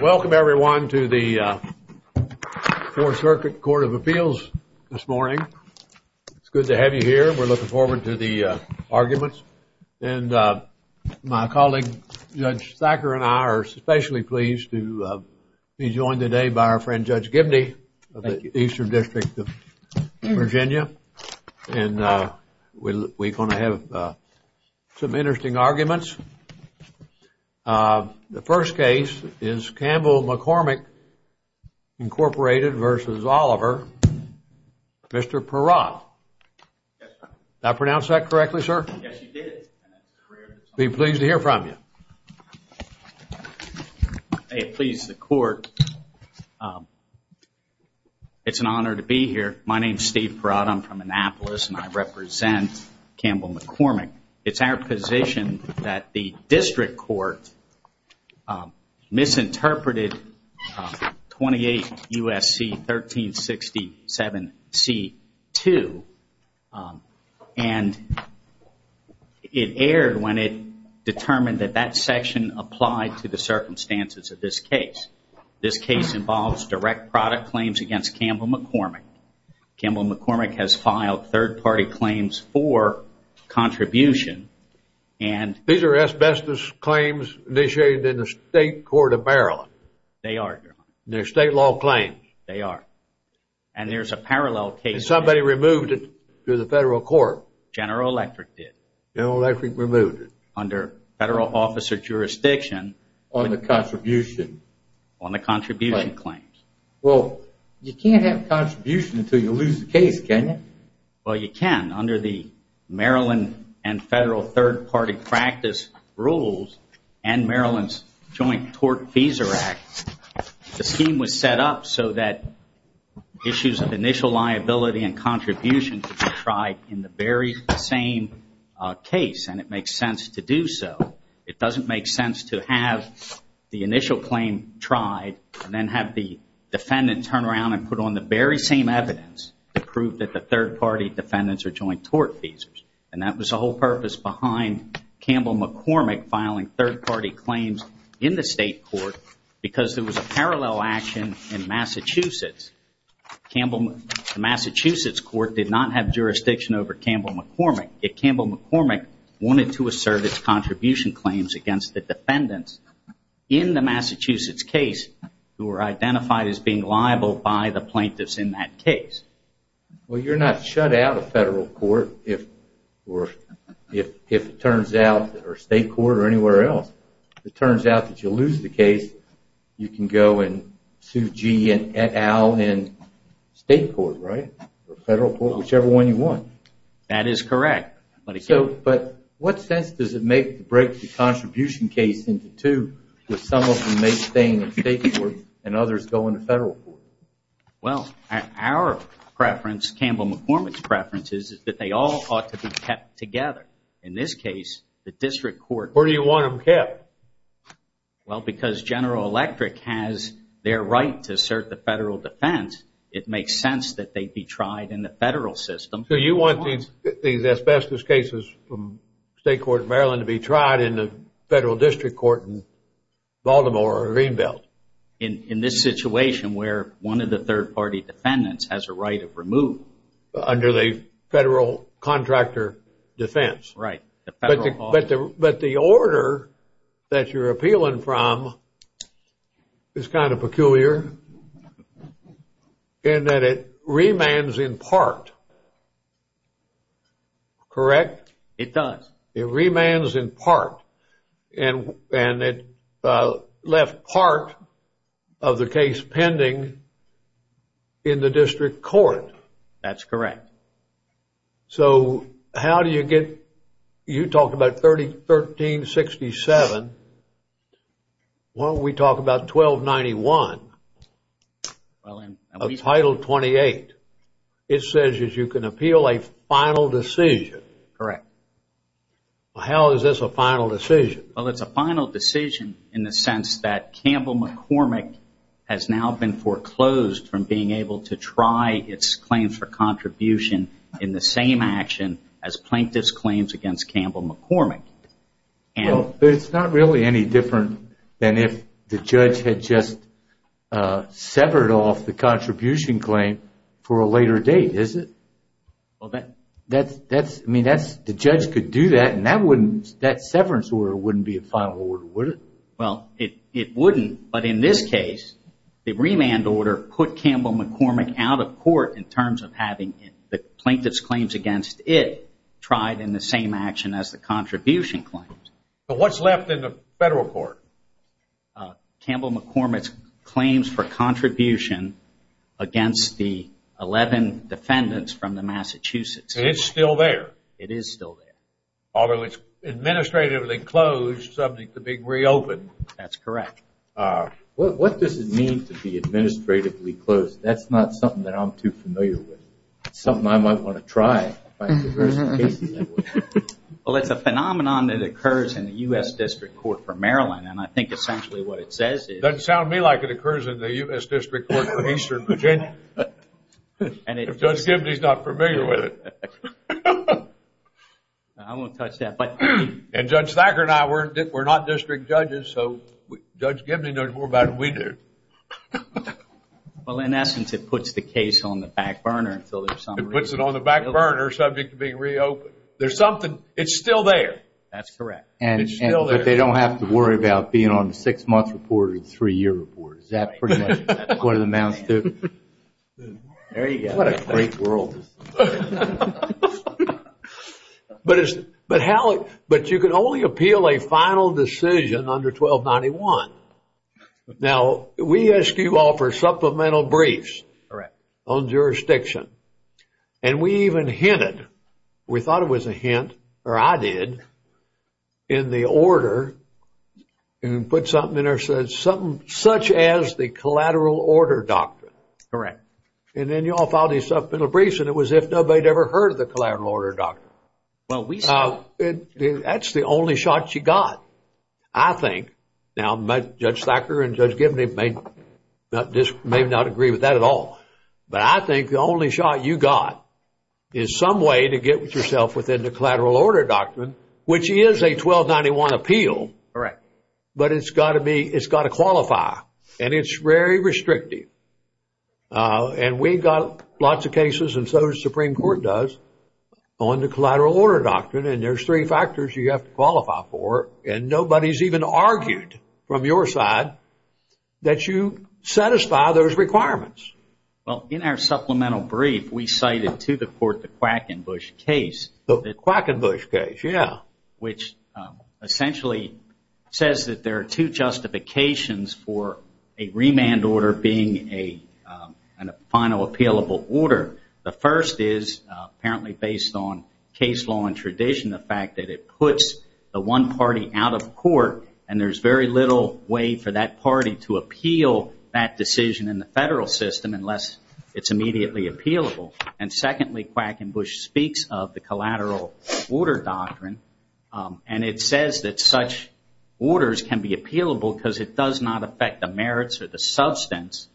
Welcome everyone to the Fourth Circuit Court of Appeals this morning. It's good to have you here. We're looking forward to the arguments and my colleague Judge Thacker and I are especially pleased to be joined today by our friend Judge Gibney of the Eastern District of Virginia and we're going to have some The first case is Campbell-McCormick Incorporated v. Oliver, Mr. Peratt. Did I pronounce that correctly, sir? Yes, you did. I'd be pleased to hear from you. Please, the Court, it's an honor to be here. My name is Steve Peratt. I'm from Annapolis and I represent Campbell-McCormick. It's our position that the District Court misinterpreted 28 U.S.C. 1367 C.2 and it erred when it determined that that section applied to the circumstances of this case. This case involves direct product claims against Campbell-McCormick. Campbell-McCormick has filed third-party claims for contribution and... These are asbestos claims initiated in the state court of Maryland. They are, Your Honor. They're state law claims. They are. And there's a parallel case... Somebody removed it through the federal court. General Electric did. General Electric removed it. Under federal officer jurisdiction... On the contribution. On the contribution claims. Well, you can't have contribution until you prove it? Well, you can. Under the Maryland and federal third-party practice rules and Maryland's joint tort-feasor act, the scheme was set up so that issues of initial liability and contribution could be tried in the very same case. And it makes sense to do so. It doesn't make sense to have the initial claim tried and then have the defendant turn around and put on the very same evidence to prove that the third-party defendants are joint tort-feasors. And that was the whole purpose behind Campbell-McCormick filing third-party claims in the state court because there was a parallel action in Massachusetts. The Massachusetts court did not have jurisdiction over Campbell-McCormick. Yet Campbell-McCormick wanted to assert its contribution claims against the defendants in the Massachusetts case who were identified as being liable by the plaintiffs in that case. Well, you're not shut out of federal court if it turns out, or state court or anywhere else, if it turns out that you lose the case, you can go and sue G. and et al. in state court, right? Or federal court, whichever one you want. That is correct. But what sense does it make to break the contribution case into two, with some of them staying in state court and others going to federal court? Well, our preference, Campbell-McCormick's preference, is that they all ought to be kept together. In this case, the district court... Where do you want them kept? Well, because General Electric has their right to assert the federal defense, it makes sense that they be tried in the federal system. So you want these asbestos cases from state court in Maryland to be tried in the federal district court in Baltimore or Greenbelt. In this situation where one of the third-party defendants has a right of removal. Under the federal contractor defense. Right. But the order that you're appealing from is kind of peculiar in that it remands in part, correct? It does. It remands in part. And it left part of the case pending in the district court. That's correct. So how do you get... You talked about 1367. Why don't we talk about 1291 of Title 28? It says you can appeal a final decision. Correct. How is this a final decision? Well, it's a final decision in the sense that Campbell-McCormick has now been foreclosed from being able to try its claims for contribution in the same action as Plaintiff's claims against Campbell-McCormick. It's not really any different than if the judge had just severed off the contribution claim for a later date, is it? The judge could do that and that severance order wouldn't be a final order, would it? Well, it wouldn't. But in this case, the remand order put Campbell-McCormick out of claims. But what's left in the federal court? Campbell-McCormick's claims for contribution against the 11 defendants from the Massachusetts. It's still there? It is still there. Although it's administratively closed, subject to be reopened. That's correct. What does it mean to be administratively closed? That's not something that I'm too familiar with. It's something I might want to try. Well, it's a phenomenon that occurs in the U.S. District Court for Maryland, and I think essentially what it says is... Doesn't sound to me like it occurs in the U.S. District Court for Eastern Virginia. If Judge Gibney's not familiar with it. I won't touch that, but... And Judge Thacker and I, we're not district judges, so Judge Gibney knows more about it than we do. Well, in essence, it puts the case on the back burner, subject to being reopened. There's something... It's still there. That's correct. And they don't have to worry about being on the six-month report or the three-year report. Is that pretty much what it amounts to? There you go. What a great world. But you can only appeal a final decision under 1291. Now, we ask you all for supplemental briefs on jurisdiction, and we even hinted... We thought it was a hint, or I did, in the order and put something in there that said something such as the collateral order doctrine. Correct. And then you all filed these supplemental briefs, and it was as if nobody had ever heard of the collateral order doctrine. That's the only shot you got, I think. Now, Judge Thacker and Judge Gibney may not agree with that at all, but I think the only shot you got is some way to get with yourself within the collateral order doctrine, which is a 1291 appeal, but it's got to qualify, and it's very restrictive. And we've got lots of cases, and so does the Supreme Court does, on the collateral order doctrine, and there's three that you satisfy those requirements. Well, in our supplemental brief, we cited to the court the Quackenbush case. The Quackenbush case, yeah. Which essentially says that there are two justifications for a remand order being a final appealable order. The first is apparently based on case law and tradition, the fact that it puts the one party out of court, and there's very little way for that party to appeal that decision in the federal system unless it's immediately appealable. And secondly, Quackenbush speaks of the collateral order doctrine, and it says that such orders can be appealable because it does not affect the merits or the substance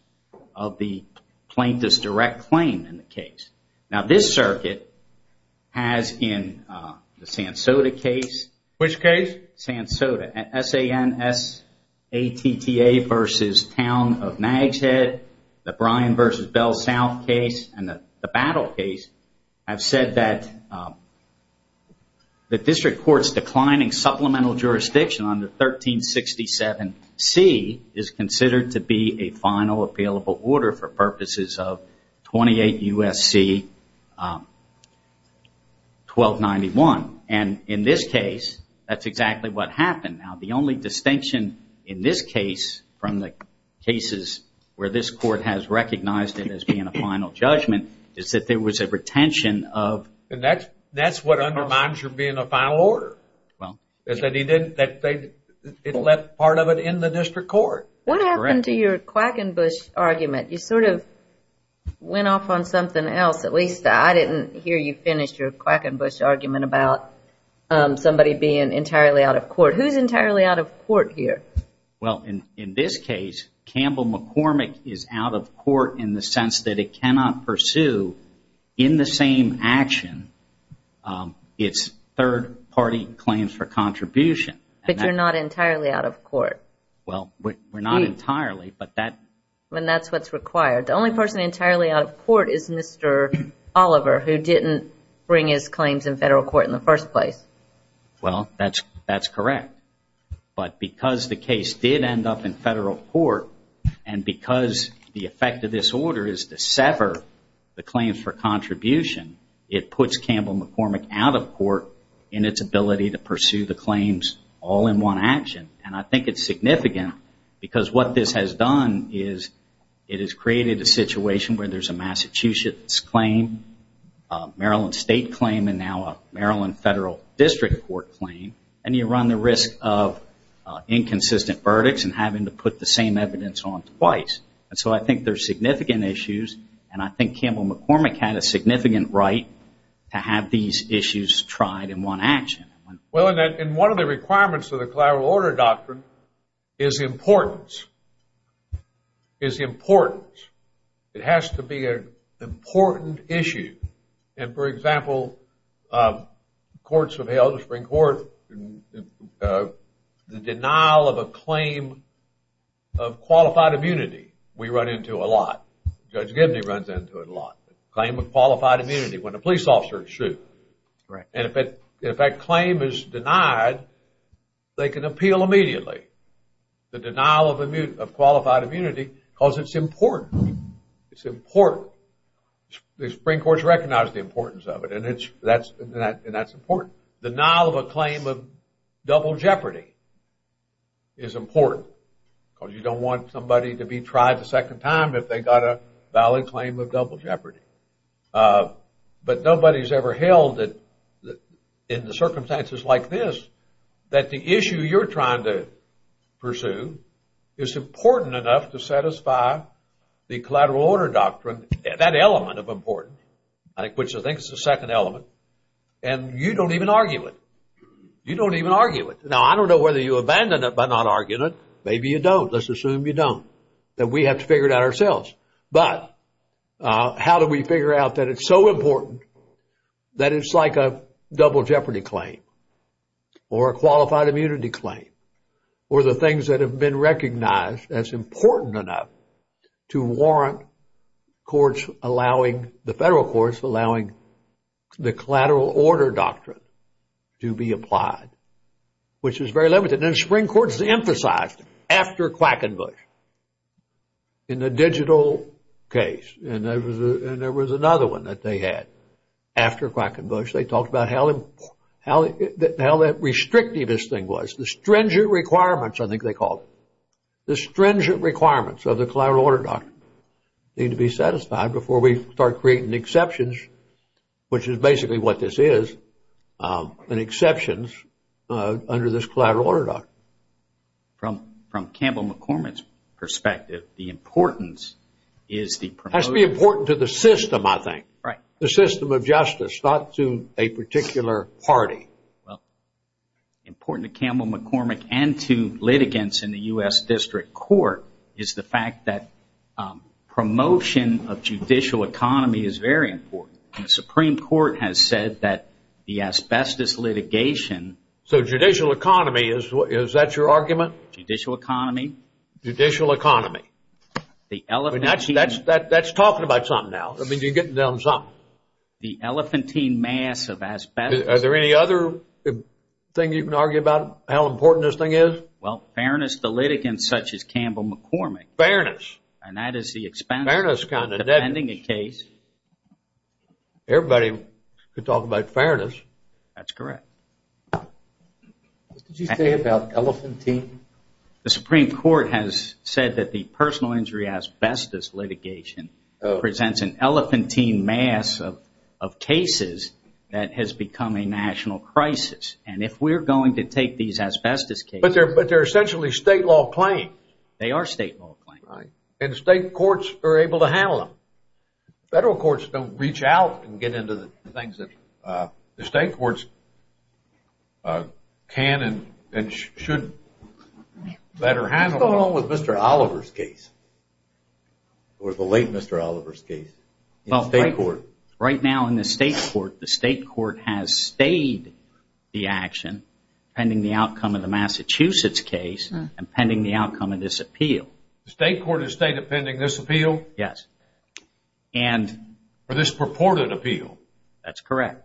of the plaintiff's in the case. Now, this circuit has in the Sansoda case. Which case? Sansoda, S-A-N-S-A-T-T-A versus Town of Nags Head, the Bryan versus Bell South case, and the Battle case have said that the district court's declining supplemental jurisdiction on the 1367C is considered to be a final appealable order for purposes of 28 U.S.C. 1291. And in this case, that's exactly what happened. Now, the only distinction in this case from the cases where this court has recognized it as being a final judgment is that there was a retention of... And that's what undermines your being a final order, is that it left part of it in the district court. That's correct. What happened to your Quackenbush argument? You sort of went off on something else. At least I didn't hear you finish your Quackenbush argument about somebody being entirely out of court. Who's entirely out of court here? Well, in this case, Campbell McCormick is out of court in the sense that it cannot pursue in the same action its third-party claims for contribution. But you're not entirely out of court. Well, we're not entirely, but that... And that's what's required. The only person entirely out of court is Mr. Oliver, who didn't bring his claims in federal court in the first place. Well, that's correct. But because the case did end up in federal court, and because the effect of this order is to sever the claims for contribution, it puts Campbell McCormick out of because what this has done is it has created a situation where there's a Massachusetts claim, a Maryland state claim, and now a Maryland federal district court claim, and you run the risk of inconsistent verdicts and having to put the same evidence on twice. And so I think there's significant issues, and I think Campbell McCormick had a significant right to have these issues tried in one action. Well, and one of the requirements of the Collateral Order Doctrine is importance. It has to be an important issue. And for example, courts have held, the Supreme Court, the denial of a claim of qualified immunity, we run into a lot. Judge Gibney runs into it a lot. Claim of qualified immunity when a police officer is sued. And if that claim is denied, they can appeal immediately the denial of qualified immunity because it's important. It's important. The Supreme Court has recognized the importance of it, and that's important. Denial of a claim of double jeopardy is important because you don't want somebody to be tried a second time if they got a valid claim of double jeopardy. But nobody's ever held in the circumstances like this that the issue you're trying to pursue is important enough to satisfy the Collateral Order Doctrine, that element of importance, which I think is the second element. And you don't even argue it. You don't even argue it. Now, I don't know whether you abandon it by not arguing it. Maybe you don't. Let's assume you don't, that we have to figure it out ourselves. But how do we figure out that it's so important that it's like a double jeopardy claim or a qualified immunity claim or the things that have been recognized as important enough to warrant courts allowing, the federal courts allowing, the Collateral Order Doctrine to be applied, which is very limited. And the Supreme Court has emphasized it after Quackenbush in the digital case. And there was another one that they had after Quackenbush. They talked about how restrictive this thing was. The stringent requirements, I think they called it. The stringent requirements of the Collateral Order Doctrine need to be satisfied before we start creating exceptions, which is basically what this is, an exception under this Collateral Order Doctrine. From Campbell McCormick's perspective, the importance is the promotion... It has to be important to the system, I think. Right. The system of justice, not to a particular party. Well, important to Campbell McCormick and to litigants in the U.S. District Court is the fact that promotion of judicial economy is very important. The Supreme Court has said that the asbestos litigation... So judicial economy, is that your argument? Judicial economy. Judicial economy. That's talking about something now. I mean, you're getting down to something. The elephantine mass of asbestos... Are there any other thing you can argue about how important this thing is? Well, fairness to litigants such as Campbell McCormick. Fairness. And that is the expense of defending a case. Everybody could talk about fairness. That's correct. What did you say about elephantine? The Supreme Court has said that the personal injury asbestos litigation presents an elephantine mass of cases that has become a national crisis. And if we're going to take these asbestos cases... But they're essentially state law claims. They are state law claims. Right. And state courts are able to handle them. Federal courts don't reach out and get into the things that the state courts can and should better handle. What's going on with Mr. Oliver's case? Or the late Mr. Oliver's case? Well, right now in the state court, the state court has stayed the action pending the outcome of the Massachusetts case and pending the outcome of this appeal. The state court has stayed pending this appeal? Yes. For this purported appeal? That's correct.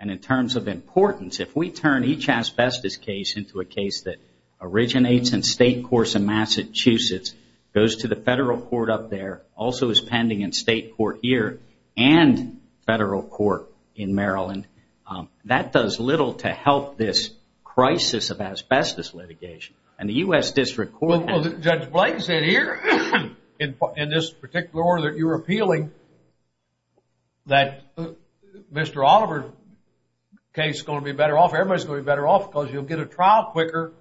And in terms of importance, if we turn each asbestos case into a case that originates in state courts in Massachusetts, goes to the federal court up there, also is pending in state court here and federal court in Maryland, that does little to help this crisis of asbestos litigation. And the U.S. District Court... Well, Judge Blake said here in this particular order that you're appealing that Mr. Oliver's case is going to be better off. Everybody's going to be better off because you'll get a trial quicker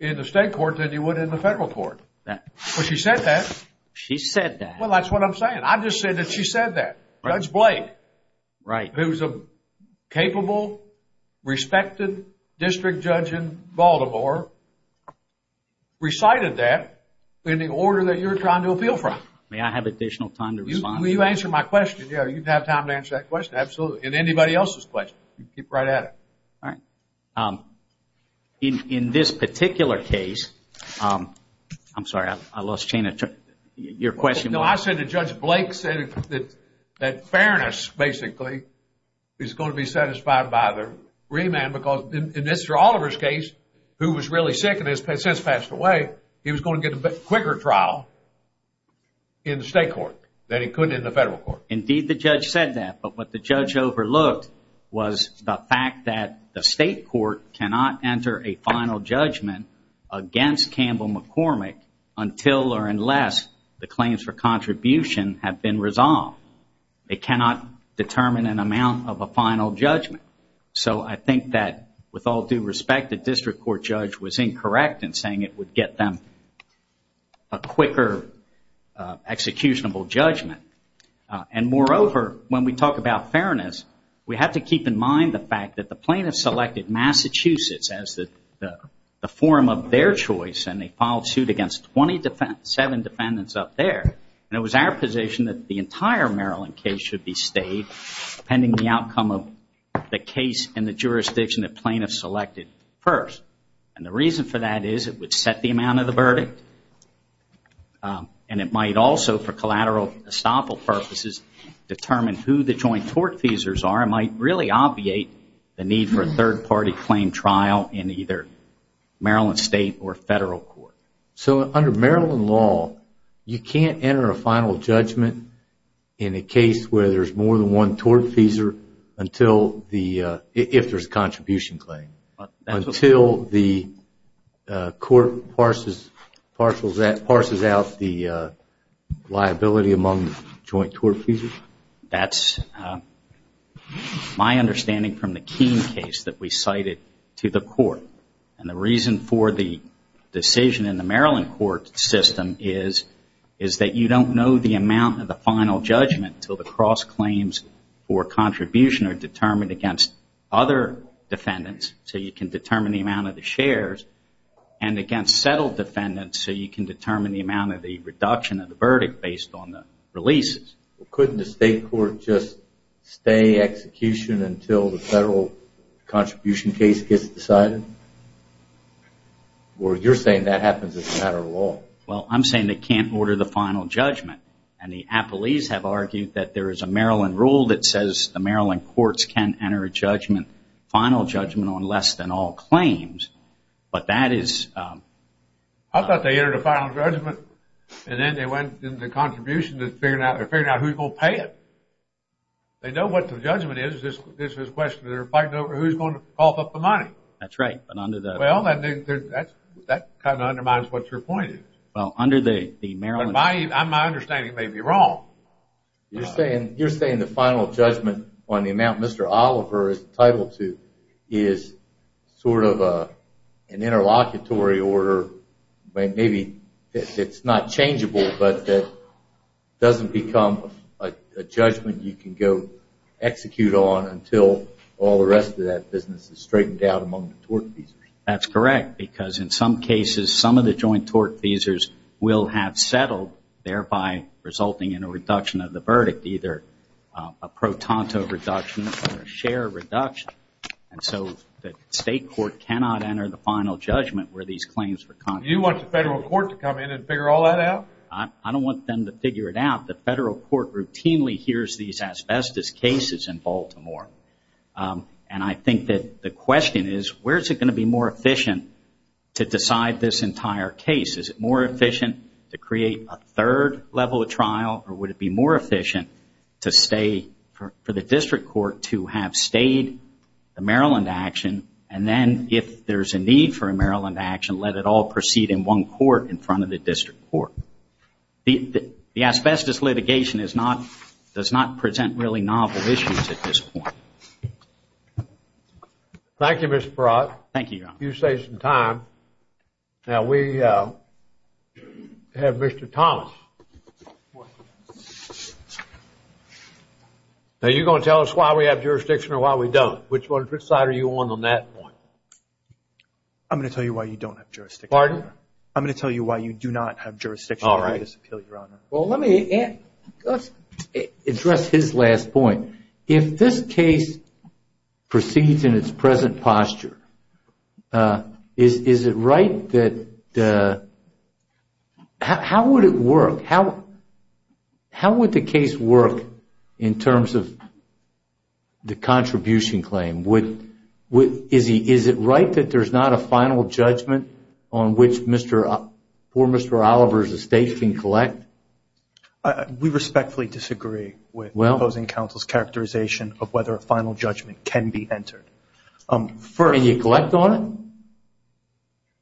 in the state court than you would in the federal court. Well, she said that. She said that. Well, that's what I'm saying. I'm just saying that she said that. Judge Blake. Right. Who's a capable, respected district judge in Baltimore, recited that in the order that you're trying to appeal from. May I have additional time to respond? Will you answer my question? Yeah, you have time to answer that question. Absolutely. And anybody else's question. Keep right at it. All right. In this particular case... I'm sorry, I lost chain of your question. I said that Judge Blake said that fairness, basically, is going to be satisfied by the remand because in Mr. Oliver's case, who was really sick and has since passed away, he was going to get a quicker trial in the state court than he could in the federal court. Indeed, the judge said that. But what the judge overlooked was the fact that the state court cannot enter a final judgment against Campbell McCormick until or unless the claims for contribution have been resolved. They cannot determine an amount of a final judgment. So I think that with all due respect, the district court judge was incorrect in saying it would get them a quicker executionable judgment. And moreover, when we talk about fairness, we have to keep in mind the fact that the plaintiff selected Massachusetts as the forum of their choice and they filed suit against 27 defendants up there. And it was our position that the entire Maryland case should be stayed pending the outcome of the case in the jurisdiction that plaintiff selected first. And the reason for that is it would set the amount of the verdict. And it might also, for collateral estoppel purposes, determine who the joint tort feasors are. It might really obviate the need for a third party claim trial in either Maryland state or federal court. So under Maryland law, you can't enter a final judgment in a case where there's more than one tort feasor if there's a contribution claim, until the court parses out the liability among the joint tort feasors? That's my understanding from the Keene case that we cited to the court. And the reason for the decision in the Maryland court system is, is that you don't know the amount of the final judgment until the cross claims for contribution are determined against other defendants. So you can determine the amount of the shares and against settled defendants. So you can determine the amount of the reduction of the verdict based on the releases. Couldn't the state court just stay execution until the federal contribution case gets decided? Or you're saying that happens as a matter of law? Well, I'm saying they can't order the final judgment. And the appellees have argued that there is a Maryland rule that says the Maryland courts can enter a judgment, final judgment on less than all claims. But that is... I thought they entered a final judgment and then they went into contribution to figure out who's going to pay it. They know what the judgment is. It's just a question of who's going to cough up the money. That's right. That kind of undermines what your point is. Well, under the Maryland... My understanding may be wrong. You're saying the final judgment on the amount Mr. Oliver is entitled to is sort of an interlocutory order, maybe it's not changeable, but that doesn't become a judgment you can go execute on until all the rest of that business is straightened out among the tort feasors? That's correct. Because in some cases, some of the joint tort feasors will have settled, thereby resulting in a reduction of the verdict, either a pro tonto reduction or a share reduction. And so the state court cannot enter the final judgment where these claims were... You want the federal court to come in and figure all that out? I don't want them to figure it out. The federal court routinely hears these asbestos cases in Baltimore. And I think that the question is, where is it going to be more efficient to decide this entire case? Is it more efficient to create a third level of trial? Or would it be more efficient for the district court to have stayed the Maryland action and then, if there's a need for a Maryland action, let it all proceed in one court in front of the district court? The asbestos litigation does not present really novel issues at this point. Thank you, Mr. Perot. Thank you, Your Honor. You saved some time. Now, we have Mr. Thomas. Now, are you going to tell us why we have jurisdiction or why we don't? Which side are you on on that point? I'm going to tell you why you don't have jurisdiction. Pardon? I'm going to tell you why you do not have jurisdiction. All right. Well, let me address his last point. If this case proceeds in its present posture, how would it work? How would the case work in terms of the contribution claim? Is it right that there's not a final judgment on which poor Mr. Oliver's estate can collect? We respectfully disagree with opposing counsel's characterization of whether a final judgment can be entered. Can you collect on it?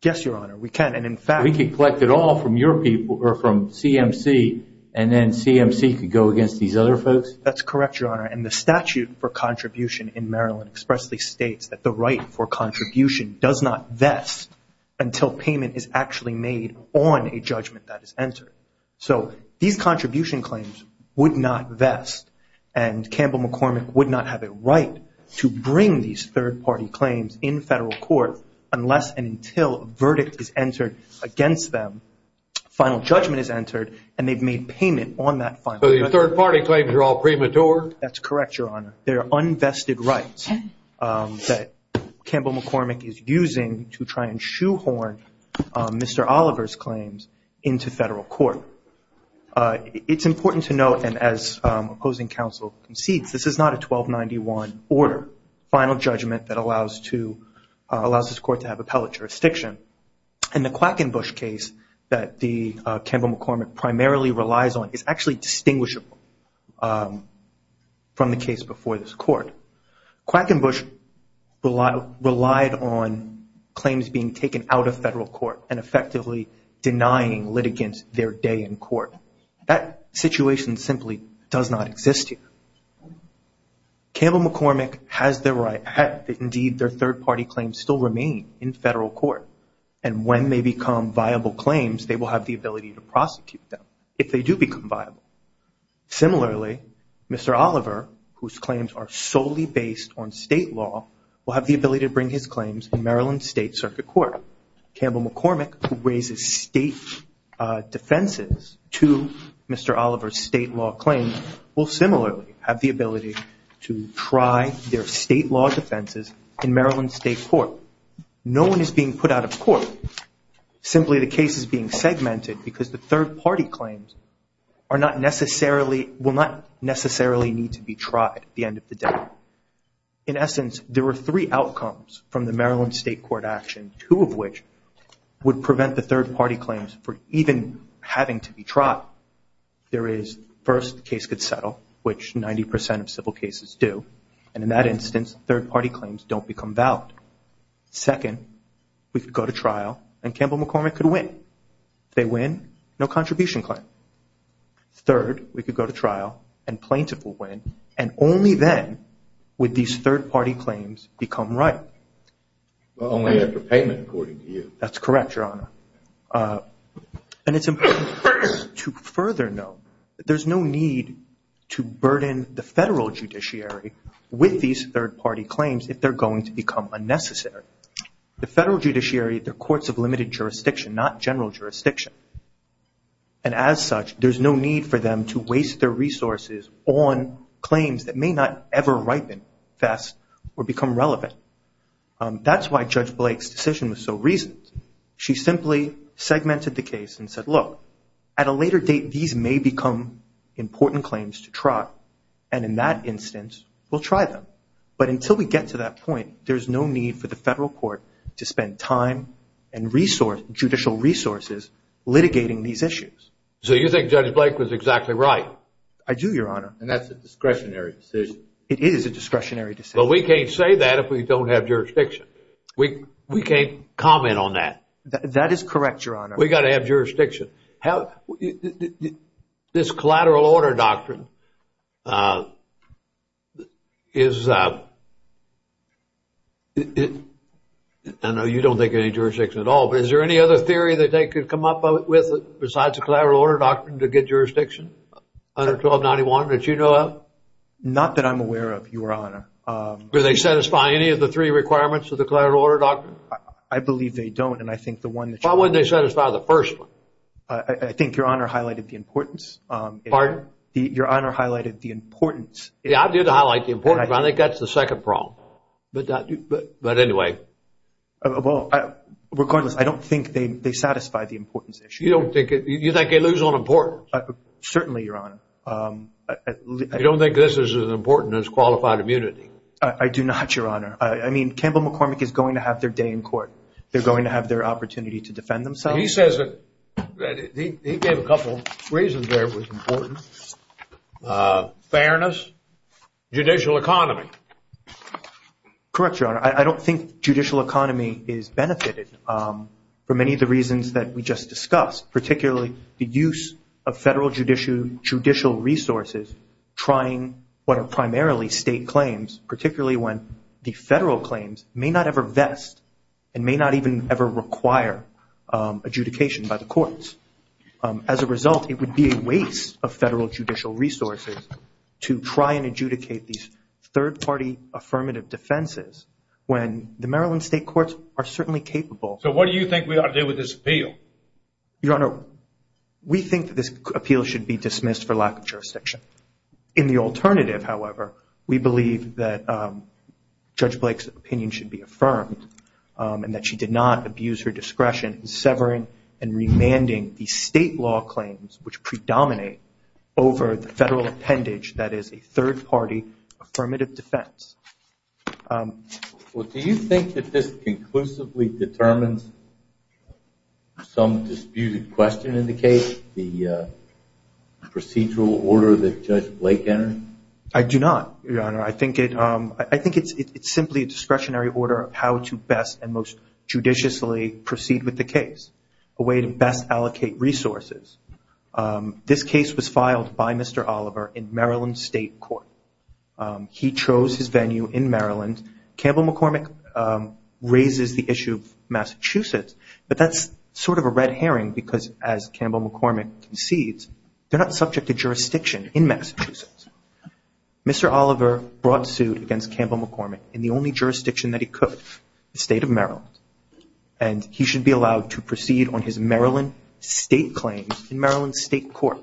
Yes, Your Honor. We can. And in fact... We can collect it all from your people or from CMC and then CMC could go against these other folks? That's correct, Your Honor. And the statute for contribution in Maryland expressly states that the right for contribution does not vest until payment is actually made on a judgment that is entered. So these contribution claims would not vest and Campbell-McCormick would not have a right to bring these third-party claims in federal court unless and until a verdict is entered against them, final judgment is entered, and they've made payment on that final judgment. So your third-party claims are all premature? That's correct, Your Honor. They're unvested rights that Campbell-McCormick is using to try and shoehorn Mr. Oliver's claims into federal court. It's important to note, and as opposing counsel concedes, this is not a 1291 order, final judgment that allows this court to have appellate jurisdiction. And the Quackenbush case that Campbell-McCormick primarily relies on is actually distinguishable from the case before this court. Quackenbush relied on claims being taken out of federal court and effectively denying litigants their day in court. That situation simply does not exist here. Campbell-McCormick has the right, indeed, their third-party claims still remain in federal court. And when they become viable claims, they will have the ability to prosecute them if they do become viable. Similarly, Mr. Oliver, whose claims are solely based on state law, will have the ability to bring his claims in Maryland State Circuit Court. Campbell-McCormick, who raises state defenses to Mr. Oliver's state law claims, will similarly have the ability to try their state law defenses in Maryland State Court. No one is being put out of court. Simply, the case is being segmented because the third-party claims are not necessarily, will not necessarily need to be tried at the end of the day. In essence, there were three outcomes from the Maryland State Court action, two of which would prevent the third-party claims from even having to be tried. There is, first, the case could settle, which 90% of civil cases do. And in that instance, third-party claims don't become valid. Second, we could go to trial and Campbell-McCormick could win. They win, no contribution claim. Third, we could go to trial and plaintiff will win. And only then would these third-party claims become right. Well, only after payment, according to you. That's correct, Your Honor. And it's important to further note that there's no need to burden the federal judiciary with these third-party claims if they're going to become unnecessary. The federal judiciary, they're courts of limited jurisdiction, not general jurisdiction. And as such, there's no need for them to waste their resources on claims that may not ever ripen, fest, or become relevant. That's why Judge Blake's decision was so reasoned. She simply segmented the case and said, look, at a later date, these may become important claims to try. And in that instance, we'll try them. But until we get to that point, there's no need for the federal court to spend time and judicial resources litigating these issues. So you think Judge Blake was exactly right? I do, Your Honor. And that's a discretionary decision. It is a discretionary decision. But we can't say that if we don't have jurisdiction. We can't comment on that. That is correct, Your Honor. We've got to have jurisdiction. This collateral order doctrine is, I know you don't think of any jurisdiction at all, but is there any other theory that they could come up with besides a collateral order doctrine to get jurisdiction under 1291 that you know of? Not that I'm aware of, Your Honor. Do they satisfy any of the three requirements of the collateral order doctrine? I believe they don't. Why wouldn't they satisfy the first one? I think Your Honor highlighted the importance. Pardon? Your Honor highlighted the importance. Yeah, I did highlight the importance. I think that's the second problem. But anyway. Well, regardless, I don't think they satisfy the importance issue. You don't think they lose on importance? Certainly, Your Honor. You don't think this is as important as qualified immunity? I do not, Your Honor. I mean, Campbell McCormick is going to have their day in court. They're going to have their opportunity to defend themselves. He says that he gave a couple reasons there was important. Fairness, judicial economy. Correct, Your Honor. I don't think judicial economy is benefited for many of the reasons that we just discussed, particularly the use of federal judicial resources trying what are primarily state claims, particularly when the federal claims may not ever vest and may not even ever require adjudication by the courts. As a result, it would be a waste of federal judicial resources to try and adjudicate these third-party affirmative defenses when the Maryland state courts are certainly capable. So what do you think we ought to do with this appeal? Your Honor, we think that this appeal should be dismissed for lack of jurisdiction. In the alternative, however, we believe that Judge Blake's opinion should be affirmed and that she did not abuse her discretion in severing and remanding the state law claims which predominate over the federal appendage that is a third-party affirmative defense. Well, do you think that this conclusively determines some disputed question in the case, the procedural order that Judge Blake entered? I do not, Your Honor. I think it's simply a discretionary order of how to best and most judiciously proceed with the case, a way to best allocate resources. This case was filed by Mr. Oliver in Maryland State Court. He chose his venue in Maryland. Campbell McCormick raises the issue of Massachusetts, but that's sort of a red herring because as Campbell McCormick concedes, they're not subject to jurisdiction in Massachusetts. Mr. Oliver brought suit against Campbell McCormick in the only jurisdiction that he could, the state of Maryland. And he should be allowed to proceed on his Maryland state claims in Maryland State Court.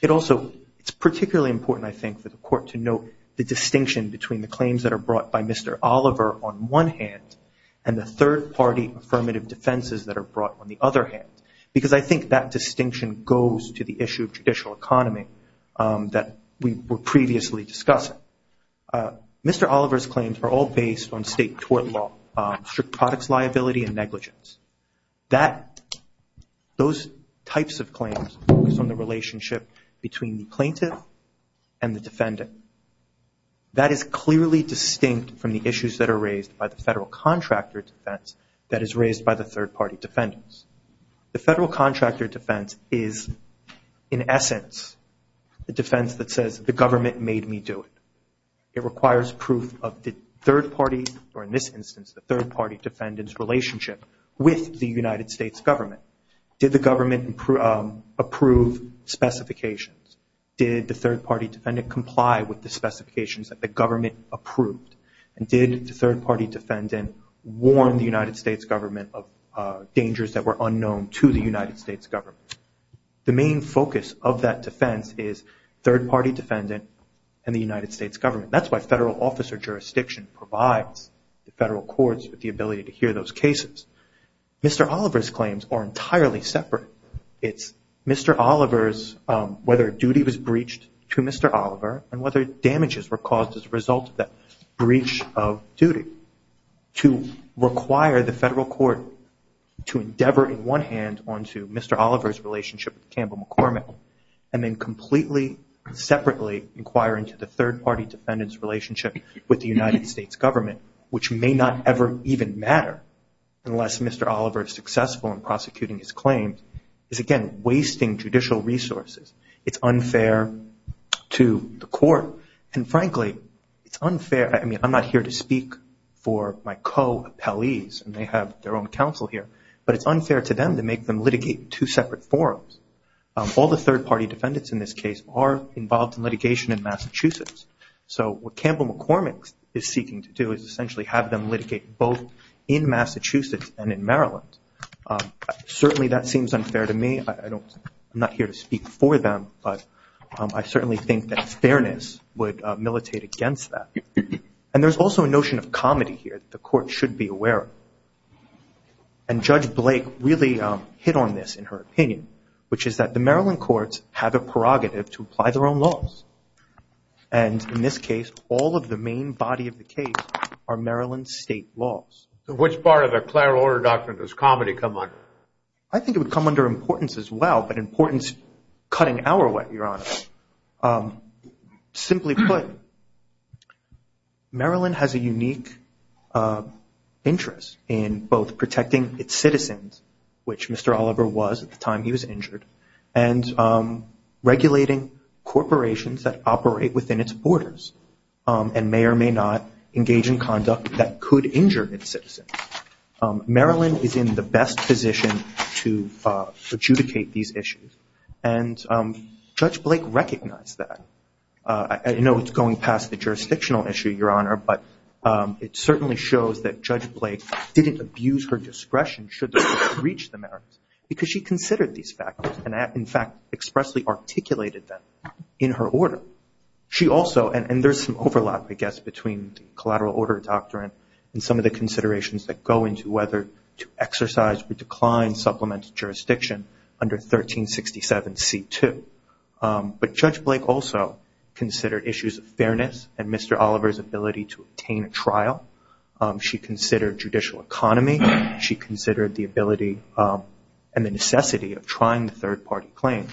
It's particularly important, I think, for the court to note the distinction between the claims that are brought by Mr. Oliver on one hand and the third-party affirmative defenses that are brought on the other hand because I think that distinction goes to the issue of judicial economy that we were previously discussing. Mr. Oliver's claims are all based on state court law, strict products liability and negligence. Those types of claims focus on the relationship between the plaintiff and the defendant. That is clearly distinct from the issues that are raised by the federal contractor defense that is raised by the third-party defendants. The federal contractor defense is, in essence, the defense that says the government made me do it. It requires proof of the third-party, or in this instance, the third-party defendant's relationship with the United States government. Did the government approve specifications? Did the third-party defendant comply with the specifications that the government approved? And did the third-party defendant warn the United States government of dangers that were unknown to the United States government? The main focus of that defense is third-party defendant and the United States government. That's why federal officer jurisdiction provides the federal courts with the ability to hear those cases. Mr. Oliver's claims are entirely separate. It's Mr. Oliver's whether duty was breached to Mr. Oliver and whether damages were caused as a result of that breach of duty. To require the federal court to endeavor in one hand onto Mr. Oliver's relationship with Campbell McCormick and then completely separately inquire into the third-party defendant's relationship with the United States government, which may not ever even matter unless Mr. Oliver is successful in prosecuting his claims. Again, wasting judicial resources. It's unfair to the court. And frankly, it's unfair. I mean, I'm not here to speak for my co-appellees, and they have their own counsel here, but it's unfair to them to make them litigate two separate forums. All the third-party defendants in this case are involved in litigation in Massachusetts. So what Campbell McCormick is seeking to do is essentially have them litigate both in Massachusetts and in Maryland. Certainly, that seems unfair to me. I'm not here to speak for them, but I certainly think that fairness would militate against that. And there's also a notion of comedy here that the court should be aware of. And Judge Blake really hit on this in her opinion, which is that the Maryland courts have a prerogative to apply their own laws. And in this case, all of the main body of the case are Maryland state laws. Which part of the clear order doctrine does comedy come under? I think it would come under importance as well, but importance cutting our way, Your Honor. Simply put, Maryland has a unique interest in both protecting its citizens, which Mr. Oliver was at the time he was injured, and regulating corporations that operate within its borders and may or may not engage in conduct that could injure its citizens. Maryland is in the best position to adjudicate these issues. And Judge Blake recognized that. I know it's going past the jurisdictional issue, Your Honor, but it certainly shows that Judge Blake didn't abuse her discretion should the court breach the merits. Because she considered these factors and, in fact, expressly articulated them in her order. She also, and there's some overlap, I guess, between the collateral order doctrine and some of the considerations that go into whether to exercise or decline supplement jurisdiction under 1367 C2. But Judge Blake also considered issues of fairness and Mr. Oliver's ability to obtain a trial. She considered judicial economy. She considered the ability and the necessity of trying third-party claims.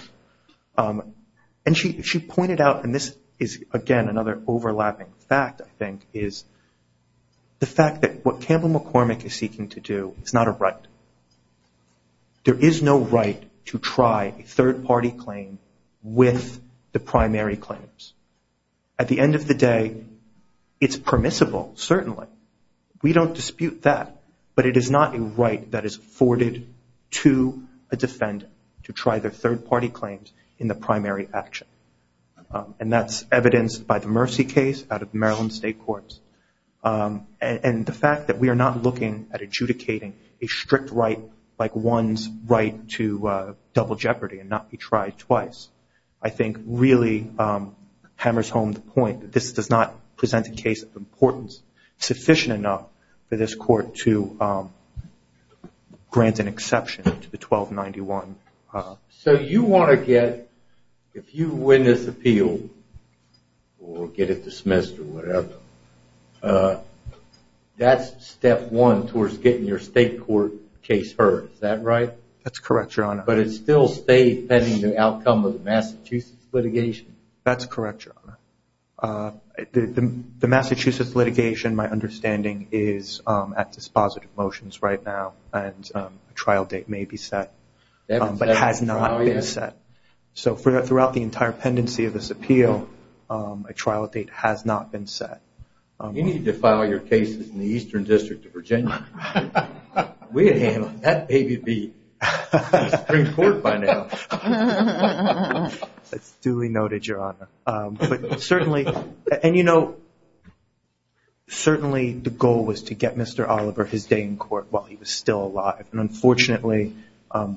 And she pointed out, and this is, again, another overlapping fact, I think, is the fact that what Campbell McCormick is seeking to do is not a right. There is no right to try a third-party claim with the primary claims. At the end of the day, it's permissible, certainly. We don't dispute that. But it is not a right that is afforded to a defendant to try their third-party claims in the primary action. And that's evidenced by the Mercy case out of Maryland State Courts. And the fact that we are not looking at adjudicating a strict right, like one's right to double jeopardy and not be tried twice, I think really hammers home the point that this does not present a case of importance sufficient enough for this court to grant an exception to the 1291. So you want to get, if you win this appeal or get it dismissed or whatever, that's step one towards getting your state court case heard, is that right? That's correct, Your Honor. But it still stays pending the outcome of the Massachusetts litigation? That's correct, Your Honor. The Massachusetts litigation, my understanding, is at dispositive motions right now. And a trial date may be set. But it has not been set. So throughout the entire pendency of this appeal, a trial date has not been set. You need to file your cases in the Eastern District of Virginia. We had handled that baby beat in the Supreme Court by now. That's duly noted, Your Honor. But certainly, the goal was to get Mr. Oliver his day in court while he was still alive. And unfortunately,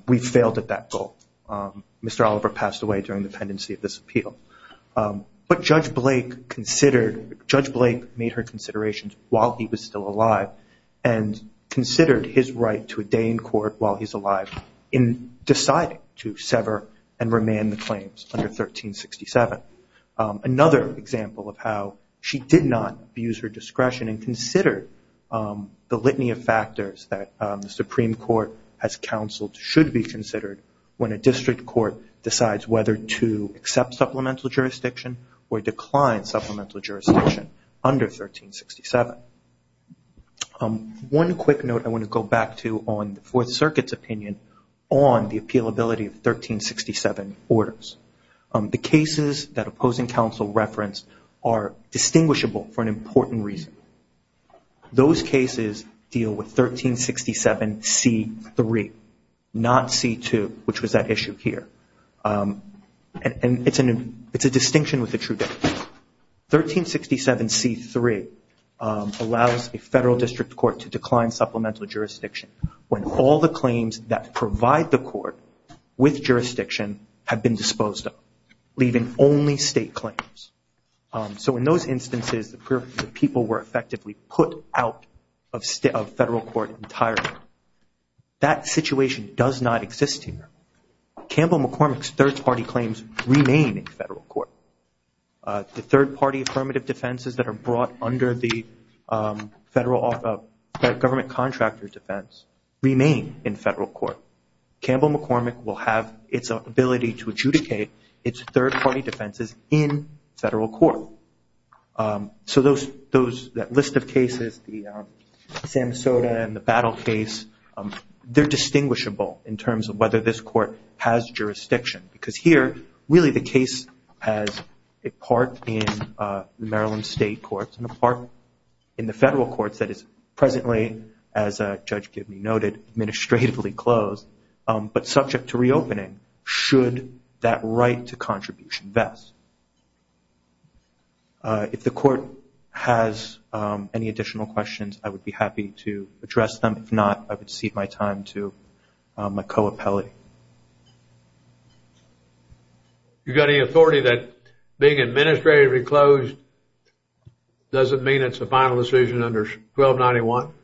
we failed at that goal. Mr. Oliver passed away during the pendency of this appeal. But Judge Blake made her considerations while he was still alive and considered his right to a day in court while he's alive in deciding to sever and remand the claims under 1367. Another example of how she did not use her discretion and consider the litany of factors that the Supreme Court has counseled should be considered when a district court decides whether to accept supplemental jurisdiction or decline supplemental jurisdiction under 1367. One quick note I want to go back to on the Fourth Circuit's opinion on the appealability of 1367 orders. The cases that opposing counsel referenced are distinguishable for an important reason. Those cases deal with 1367C3, not C2, which was that issue here. And it's a distinction with the true definition. 1367C3 allows a federal district court to decline supplemental jurisdiction when all the claims that provide the court with jurisdiction have been disposed of, leaving only state claims. So in those instances, the people were effectively put out of federal court entirely. That situation does not exist here. Campbell McCormick's third-party claims remain in federal court. The third-party affirmative defenses that are brought under the government contractor defense remain in federal court. Campbell McCormick will have its ability to adjudicate its third-party defenses in federal court. So that list of cases, the Sam Soda and the Battle case, they're distinguishable in terms of whether this court has jurisdiction. Because here, really the case has a part in the Maryland state courts and a part in the federal courts that is presently, as Judge Gibney noted, administratively closed, but subject to reopening should that right to contribution vest. If the court has any additional questions, I would be happy to address them. If not, I would cede my time to my co-appellate. You've got any authority that being administratively closed doesn't mean it's a final decision under 1291?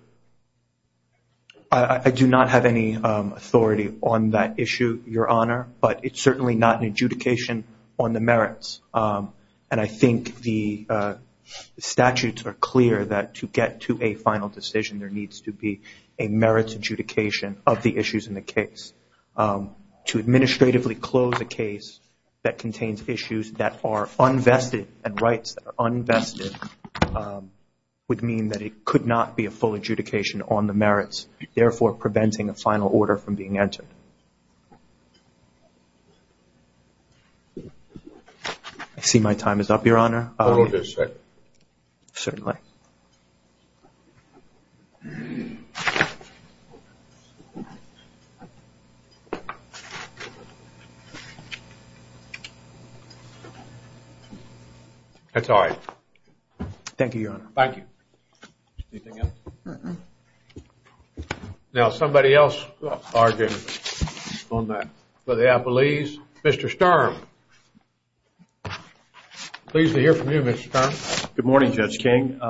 I do not have any authority on that issue, Your Honor, but it's certainly not an adjudication on the merits. And I think the statutes are clear that to get to a final decision, there needs to be a merits adjudication of the issues in the case. To administratively close a case that contains issues that are unvested and rights that are unvested would mean that it could not be a full adjudication on the merits, therefore preventing a final order from being entered. I see my time is up, Your Honor. Hold it a second. Certainly. Thank you. That's all right. Thank you, Your Honor. Thank you. Anything else? Now, somebody else argued on that for the appellees. Mr. Sturm. Pleased to hear from you, Mr. Sturm. Good morning, Judge King.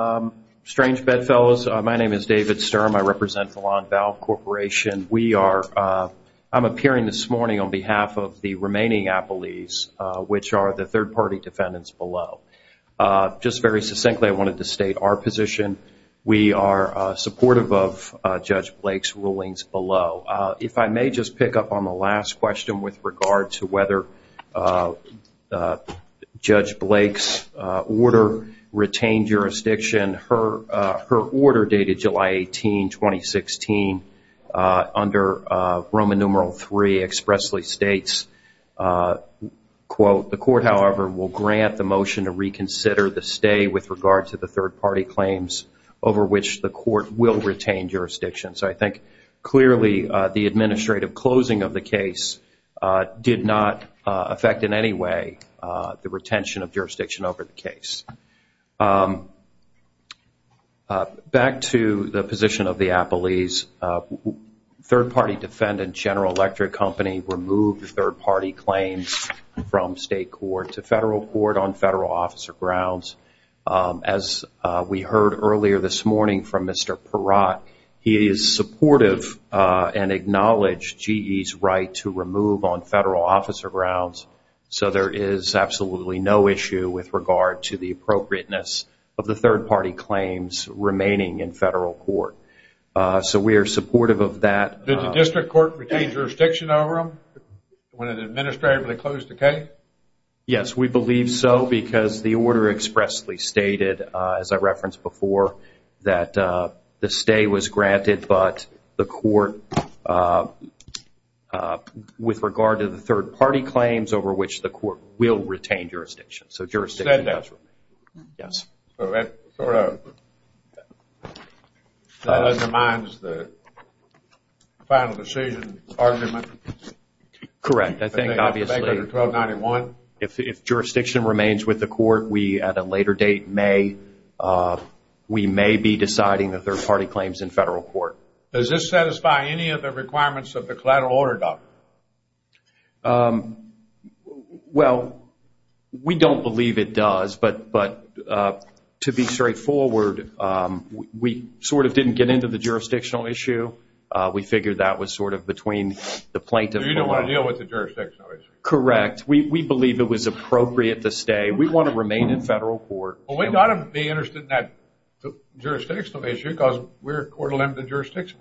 Strange bedfellows. My name is David Sturm. I represent the Longval Corporation. I'm appearing this morning on behalf of the remaining appellees, which are the third-party defendants below. Just very succinctly, I wanted to state our position. We are supportive of Judge Blake's rulings below. If I may just pick up on the last question with regard to whether Judge Blake's order retained jurisdiction. Her order, dated July 18, 2016, under Roman numeral III, expressly states, quote, the court, however, will grant the motion to reconsider the stay with regard to the third-party claims over which the court will retain jurisdiction. So I think, clearly, the administrative closing of the case did not affect in any way the retention of jurisdiction over the case. Back to the position of the appellees. Third-party defendant, General Electric Company, removed third-party claims from state court to federal court on federal officer grounds. As we heard earlier this morning from Mr. Peratt, he is supportive and acknowledged GE's right to remove on federal officer grounds. So there is absolutely no issue with regard to the appropriateness of the third-party claims remaining in federal court. So we are supportive of that. Did the district court retain jurisdiction over them when it administratively closed the case? Yes, we believe so because the order expressly stated, as I referenced before, that the stay was granted but the court, with regard to the third-party claims over which the court will retain jurisdiction. So jurisdiction does remain. Yes. That undermines the final decision argument? Correct. I think, obviously, if jurisdiction remains with the court, we at a later date may, we may be deciding the third-party claims in federal court. Does this satisfy any of the requirements of the collateral order, doctor? Um, well, we don't believe it does, but to be straightforward, we sort of didn't get into the jurisdictional issue. We figured that was sort of between the plaintiff and the law. So you don't want to deal with the jurisdictional issue? Correct. We believe it was appropriate to stay. We want to remain in federal court. Well, we ought to be interested in that jurisdictional issue because we're interested in it.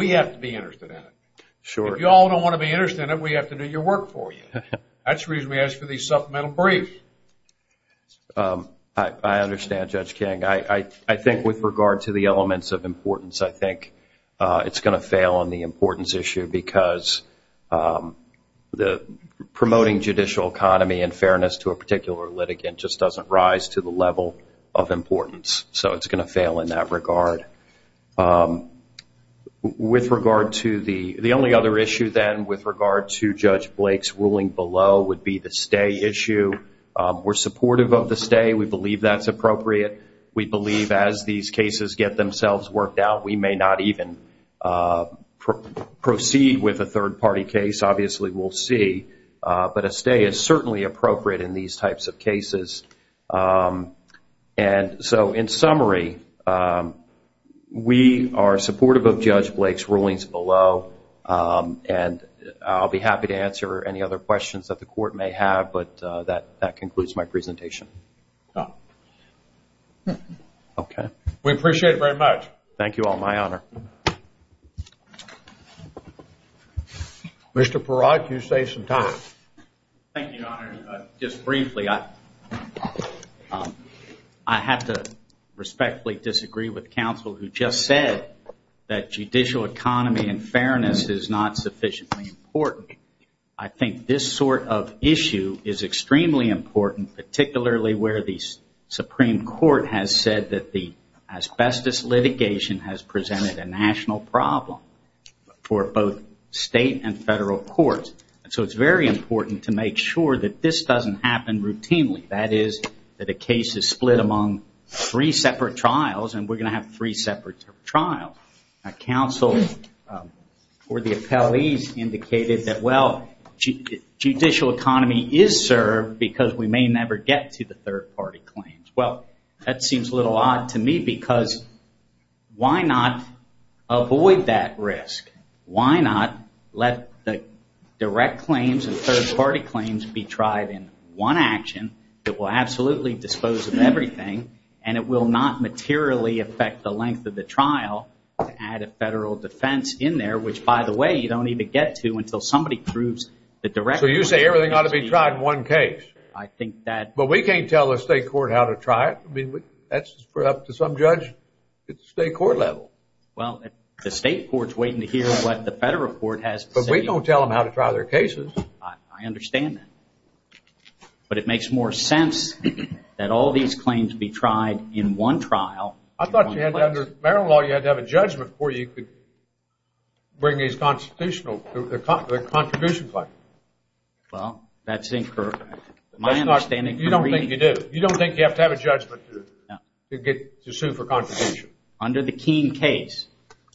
We have to be interested in it. Sure. If you all don't want to be interested in it, we have to do your work for you. That's the reason we asked for the supplemental brief. I understand, Judge King. I think with regard to the elements of importance, I think it's going to fail on the importance issue because the promoting judicial economy and fairness to a particular litigant just doesn't rise to the level of importance. So it's going to fail in that regard. Um, with regard to the, the only other issue then with regard to Judge Blake's ruling below would be the stay issue. We're supportive of the stay. We believe that's appropriate. We believe as these cases get themselves worked out, we may not even proceed with a third party case. Obviously, we'll see. But a stay is certainly appropriate in these types of cases. Um, and so in summary, um, we are supportive of Judge Blake's rulings below. Um, and I'll be happy to answer any other questions that the court may have. But, uh, that, that concludes my presentation. Okay. We appreciate it very much. Thank you all. My honor. Mr. Perott, you saved some time. Thank you, your honor. Just briefly, I, um, I have to respectfully disagree with counsel who just said that judicial economy and fairness is not sufficiently important. I think this sort of issue is extremely important, particularly where the Supreme Court has said that the asbestos litigation has presented a national problem for both state and federal courts. So it's very important to make sure that this doesn't happen routinely. That is, that a case is split among three separate trials, and we're going to have three separate trials. Now, counsel, um, or the appellees indicated that, well, judicial economy is served because we may never get to the third party claims. Well, that seems a little odd to me because why not avoid that risk? Why not let the direct claims and third party claims be tried in one action that will absolutely dispose of everything, and it will not materially affect the length of the trial to add a federal defense in there, which, by the way, you don't even get to until somebody proves the direct claim. So you say everything ought to be tried in one case. I think that... We can't tell the state court how to try it. I mean, that's up to some judge at the state court level. Well, the state court's waiting to hear what the federal court has to say. But we don't tell them how to try their cases. I understand that. But it makes more sense that all these claims be tried in one trial. I thought you had to, under Maryland law, you had to have a judgment before you could bring these constitutional, the contribution claim. Well, that's incurred. My understanding... You don't think you have to have a judgment to sue for contribution? Under the Keene case,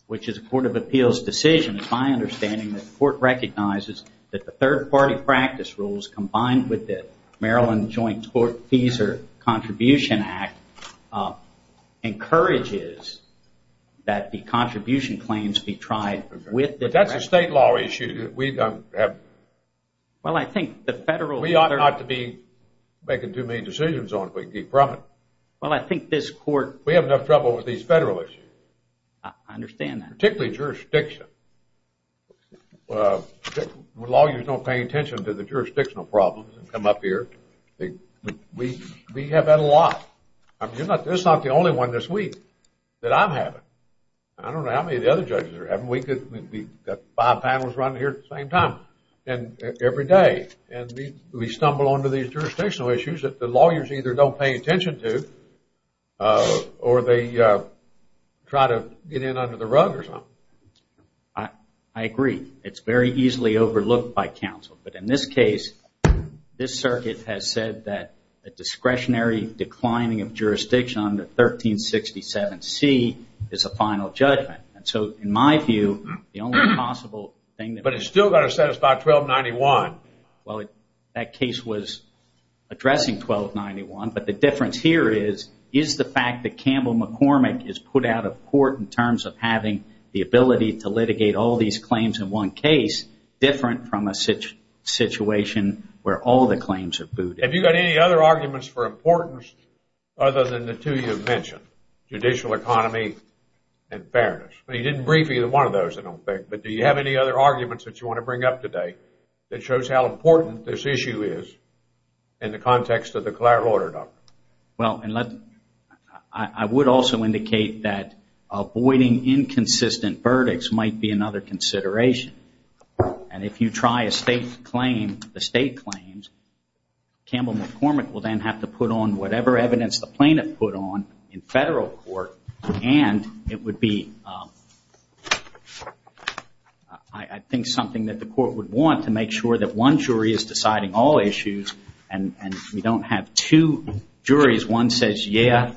which is a court of appeals decision, my understanding is that the court recognizes that the third party practice rules, combined with the Maryland Joint Court Fees or Contribution Act, encourages that the contribution claims be tried with the... But that's a state law issue. Well, I think the federal... We ought not to be making too many decisions on it if we can keep from it. Well, I think this court... We have enough trouble with these federal issues. I understand that. Particularly jurisdiction. Lawyers don't pay attention to the jurisdictional problems that come up here. We have had a lot. This is not the only one this week that I'm having. I don't know how many of the other judges are having. We've got five panels running here at the same time every day. And we stumble onto these jurisdictional issues that the lawyers either don't pay attention to, or they try to get in under the rug or something. I agree. It's very easily overlooked by counsel. But in this case, this circuit has said that a discretionary declining of jurisdiction under 1367C is a final judgment. And so, in my view, the only possible thing... But it's still going to satisfy 1291. Well, that case was addressing 1291. But the difference here is, is the fact that Campbell McCormick is put out of court in terms of having the ability to litigate all these claims in one case different from a situation where all the claims are booted? Have you got any other arguments for importance other than the two you've mentioned? Judicial economy and fairness. But you didn't brief either one of those, I don't think. But do you have any other arguments that you want to bring up today that shows how important this issue is in the context of the Clare order, Doctor? Well, I would also indicate that avoiding inconsistent verdicts might be another consideration. And if you try a state claim, the state claims, Campbell McCormick will then have to put on whatever evidence the plaintiff put on in federal court. And it would be, I think, something that the court would want to make sure that one jury is deciding all issues and we don't have two juries. One says, yeah,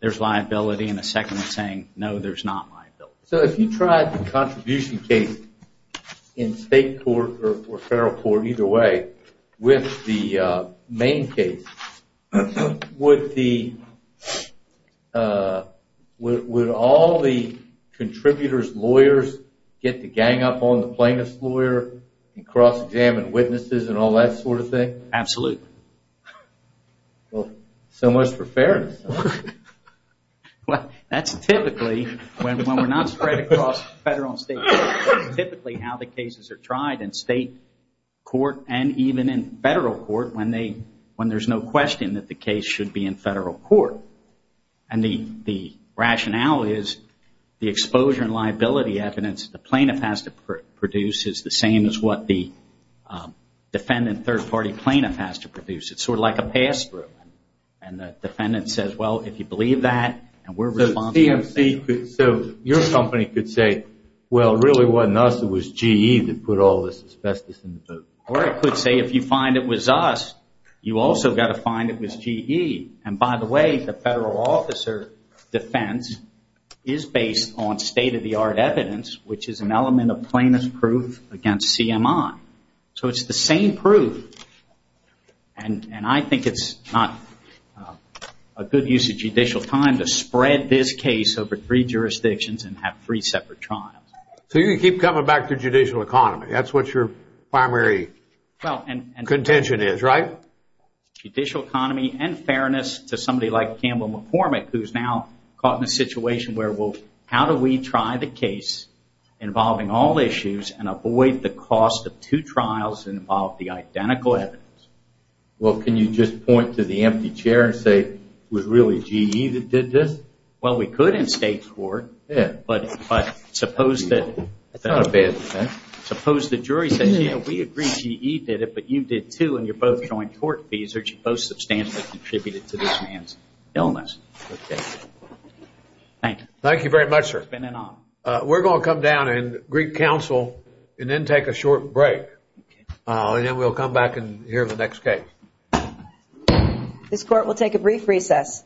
there's liability. And the second is saying, no, there's not liability. So if you tried the contribution case in state court or federal court, either way, with the main case, would all the contributors' lawyers get the gang up on the plaintiff's lawyer and cross-examine witnesses and all that sort of thing? Absolutely. Well, so much for fairness. Well, that's typically when we're not spread across federal and state courts, typically how the cases are tried in state court and even in federal court when there's no question that the case should be in federal court. And the rationale is the exposure and liability evidence the plaintiff has to produce is the same as what the defendant third-party plaintiff has to produce. It's sort of like a pass-through. And the defendant says, well, if you believe that, and we're responsible. So your company could say, well, really it wasn't us, it was GE that put all this asbestos in the boat. Or it could say, if you find it was us, you also got to find it was GE. And by the way, the federal officer defense is based on state-of-the-art evidence, which is an element of plaintiff's proof against CMI. So it's the same proof. And I think it's not a good use of judicial time to spread this case over three jurisdictions and have three separate trials. So you keep coming back to judicial economy. That's what your primary contention is, right? Judicial economy and fairness to somebody like Campbell McCormick, who's now caught in a situation where, well, how do we try the case involving all issues and avoid the cost of two trials and involve the identical evidence? Well, can you just point to the empty chair and say, it was really GE that did this? Well, we could in state court. Yeah. But suppose that... That's not a bad defense. Suppose the jury says, yeah, we agree GE did it, but you did too. And you're both showing tort fees or you both substantially contributed to this man's illness. Thank you. Thank you very much, sir. It's been an honor. We're going to come down and greet counsel and then take a short break. And then we'll come back and hear the next case. This court will take a brief recess.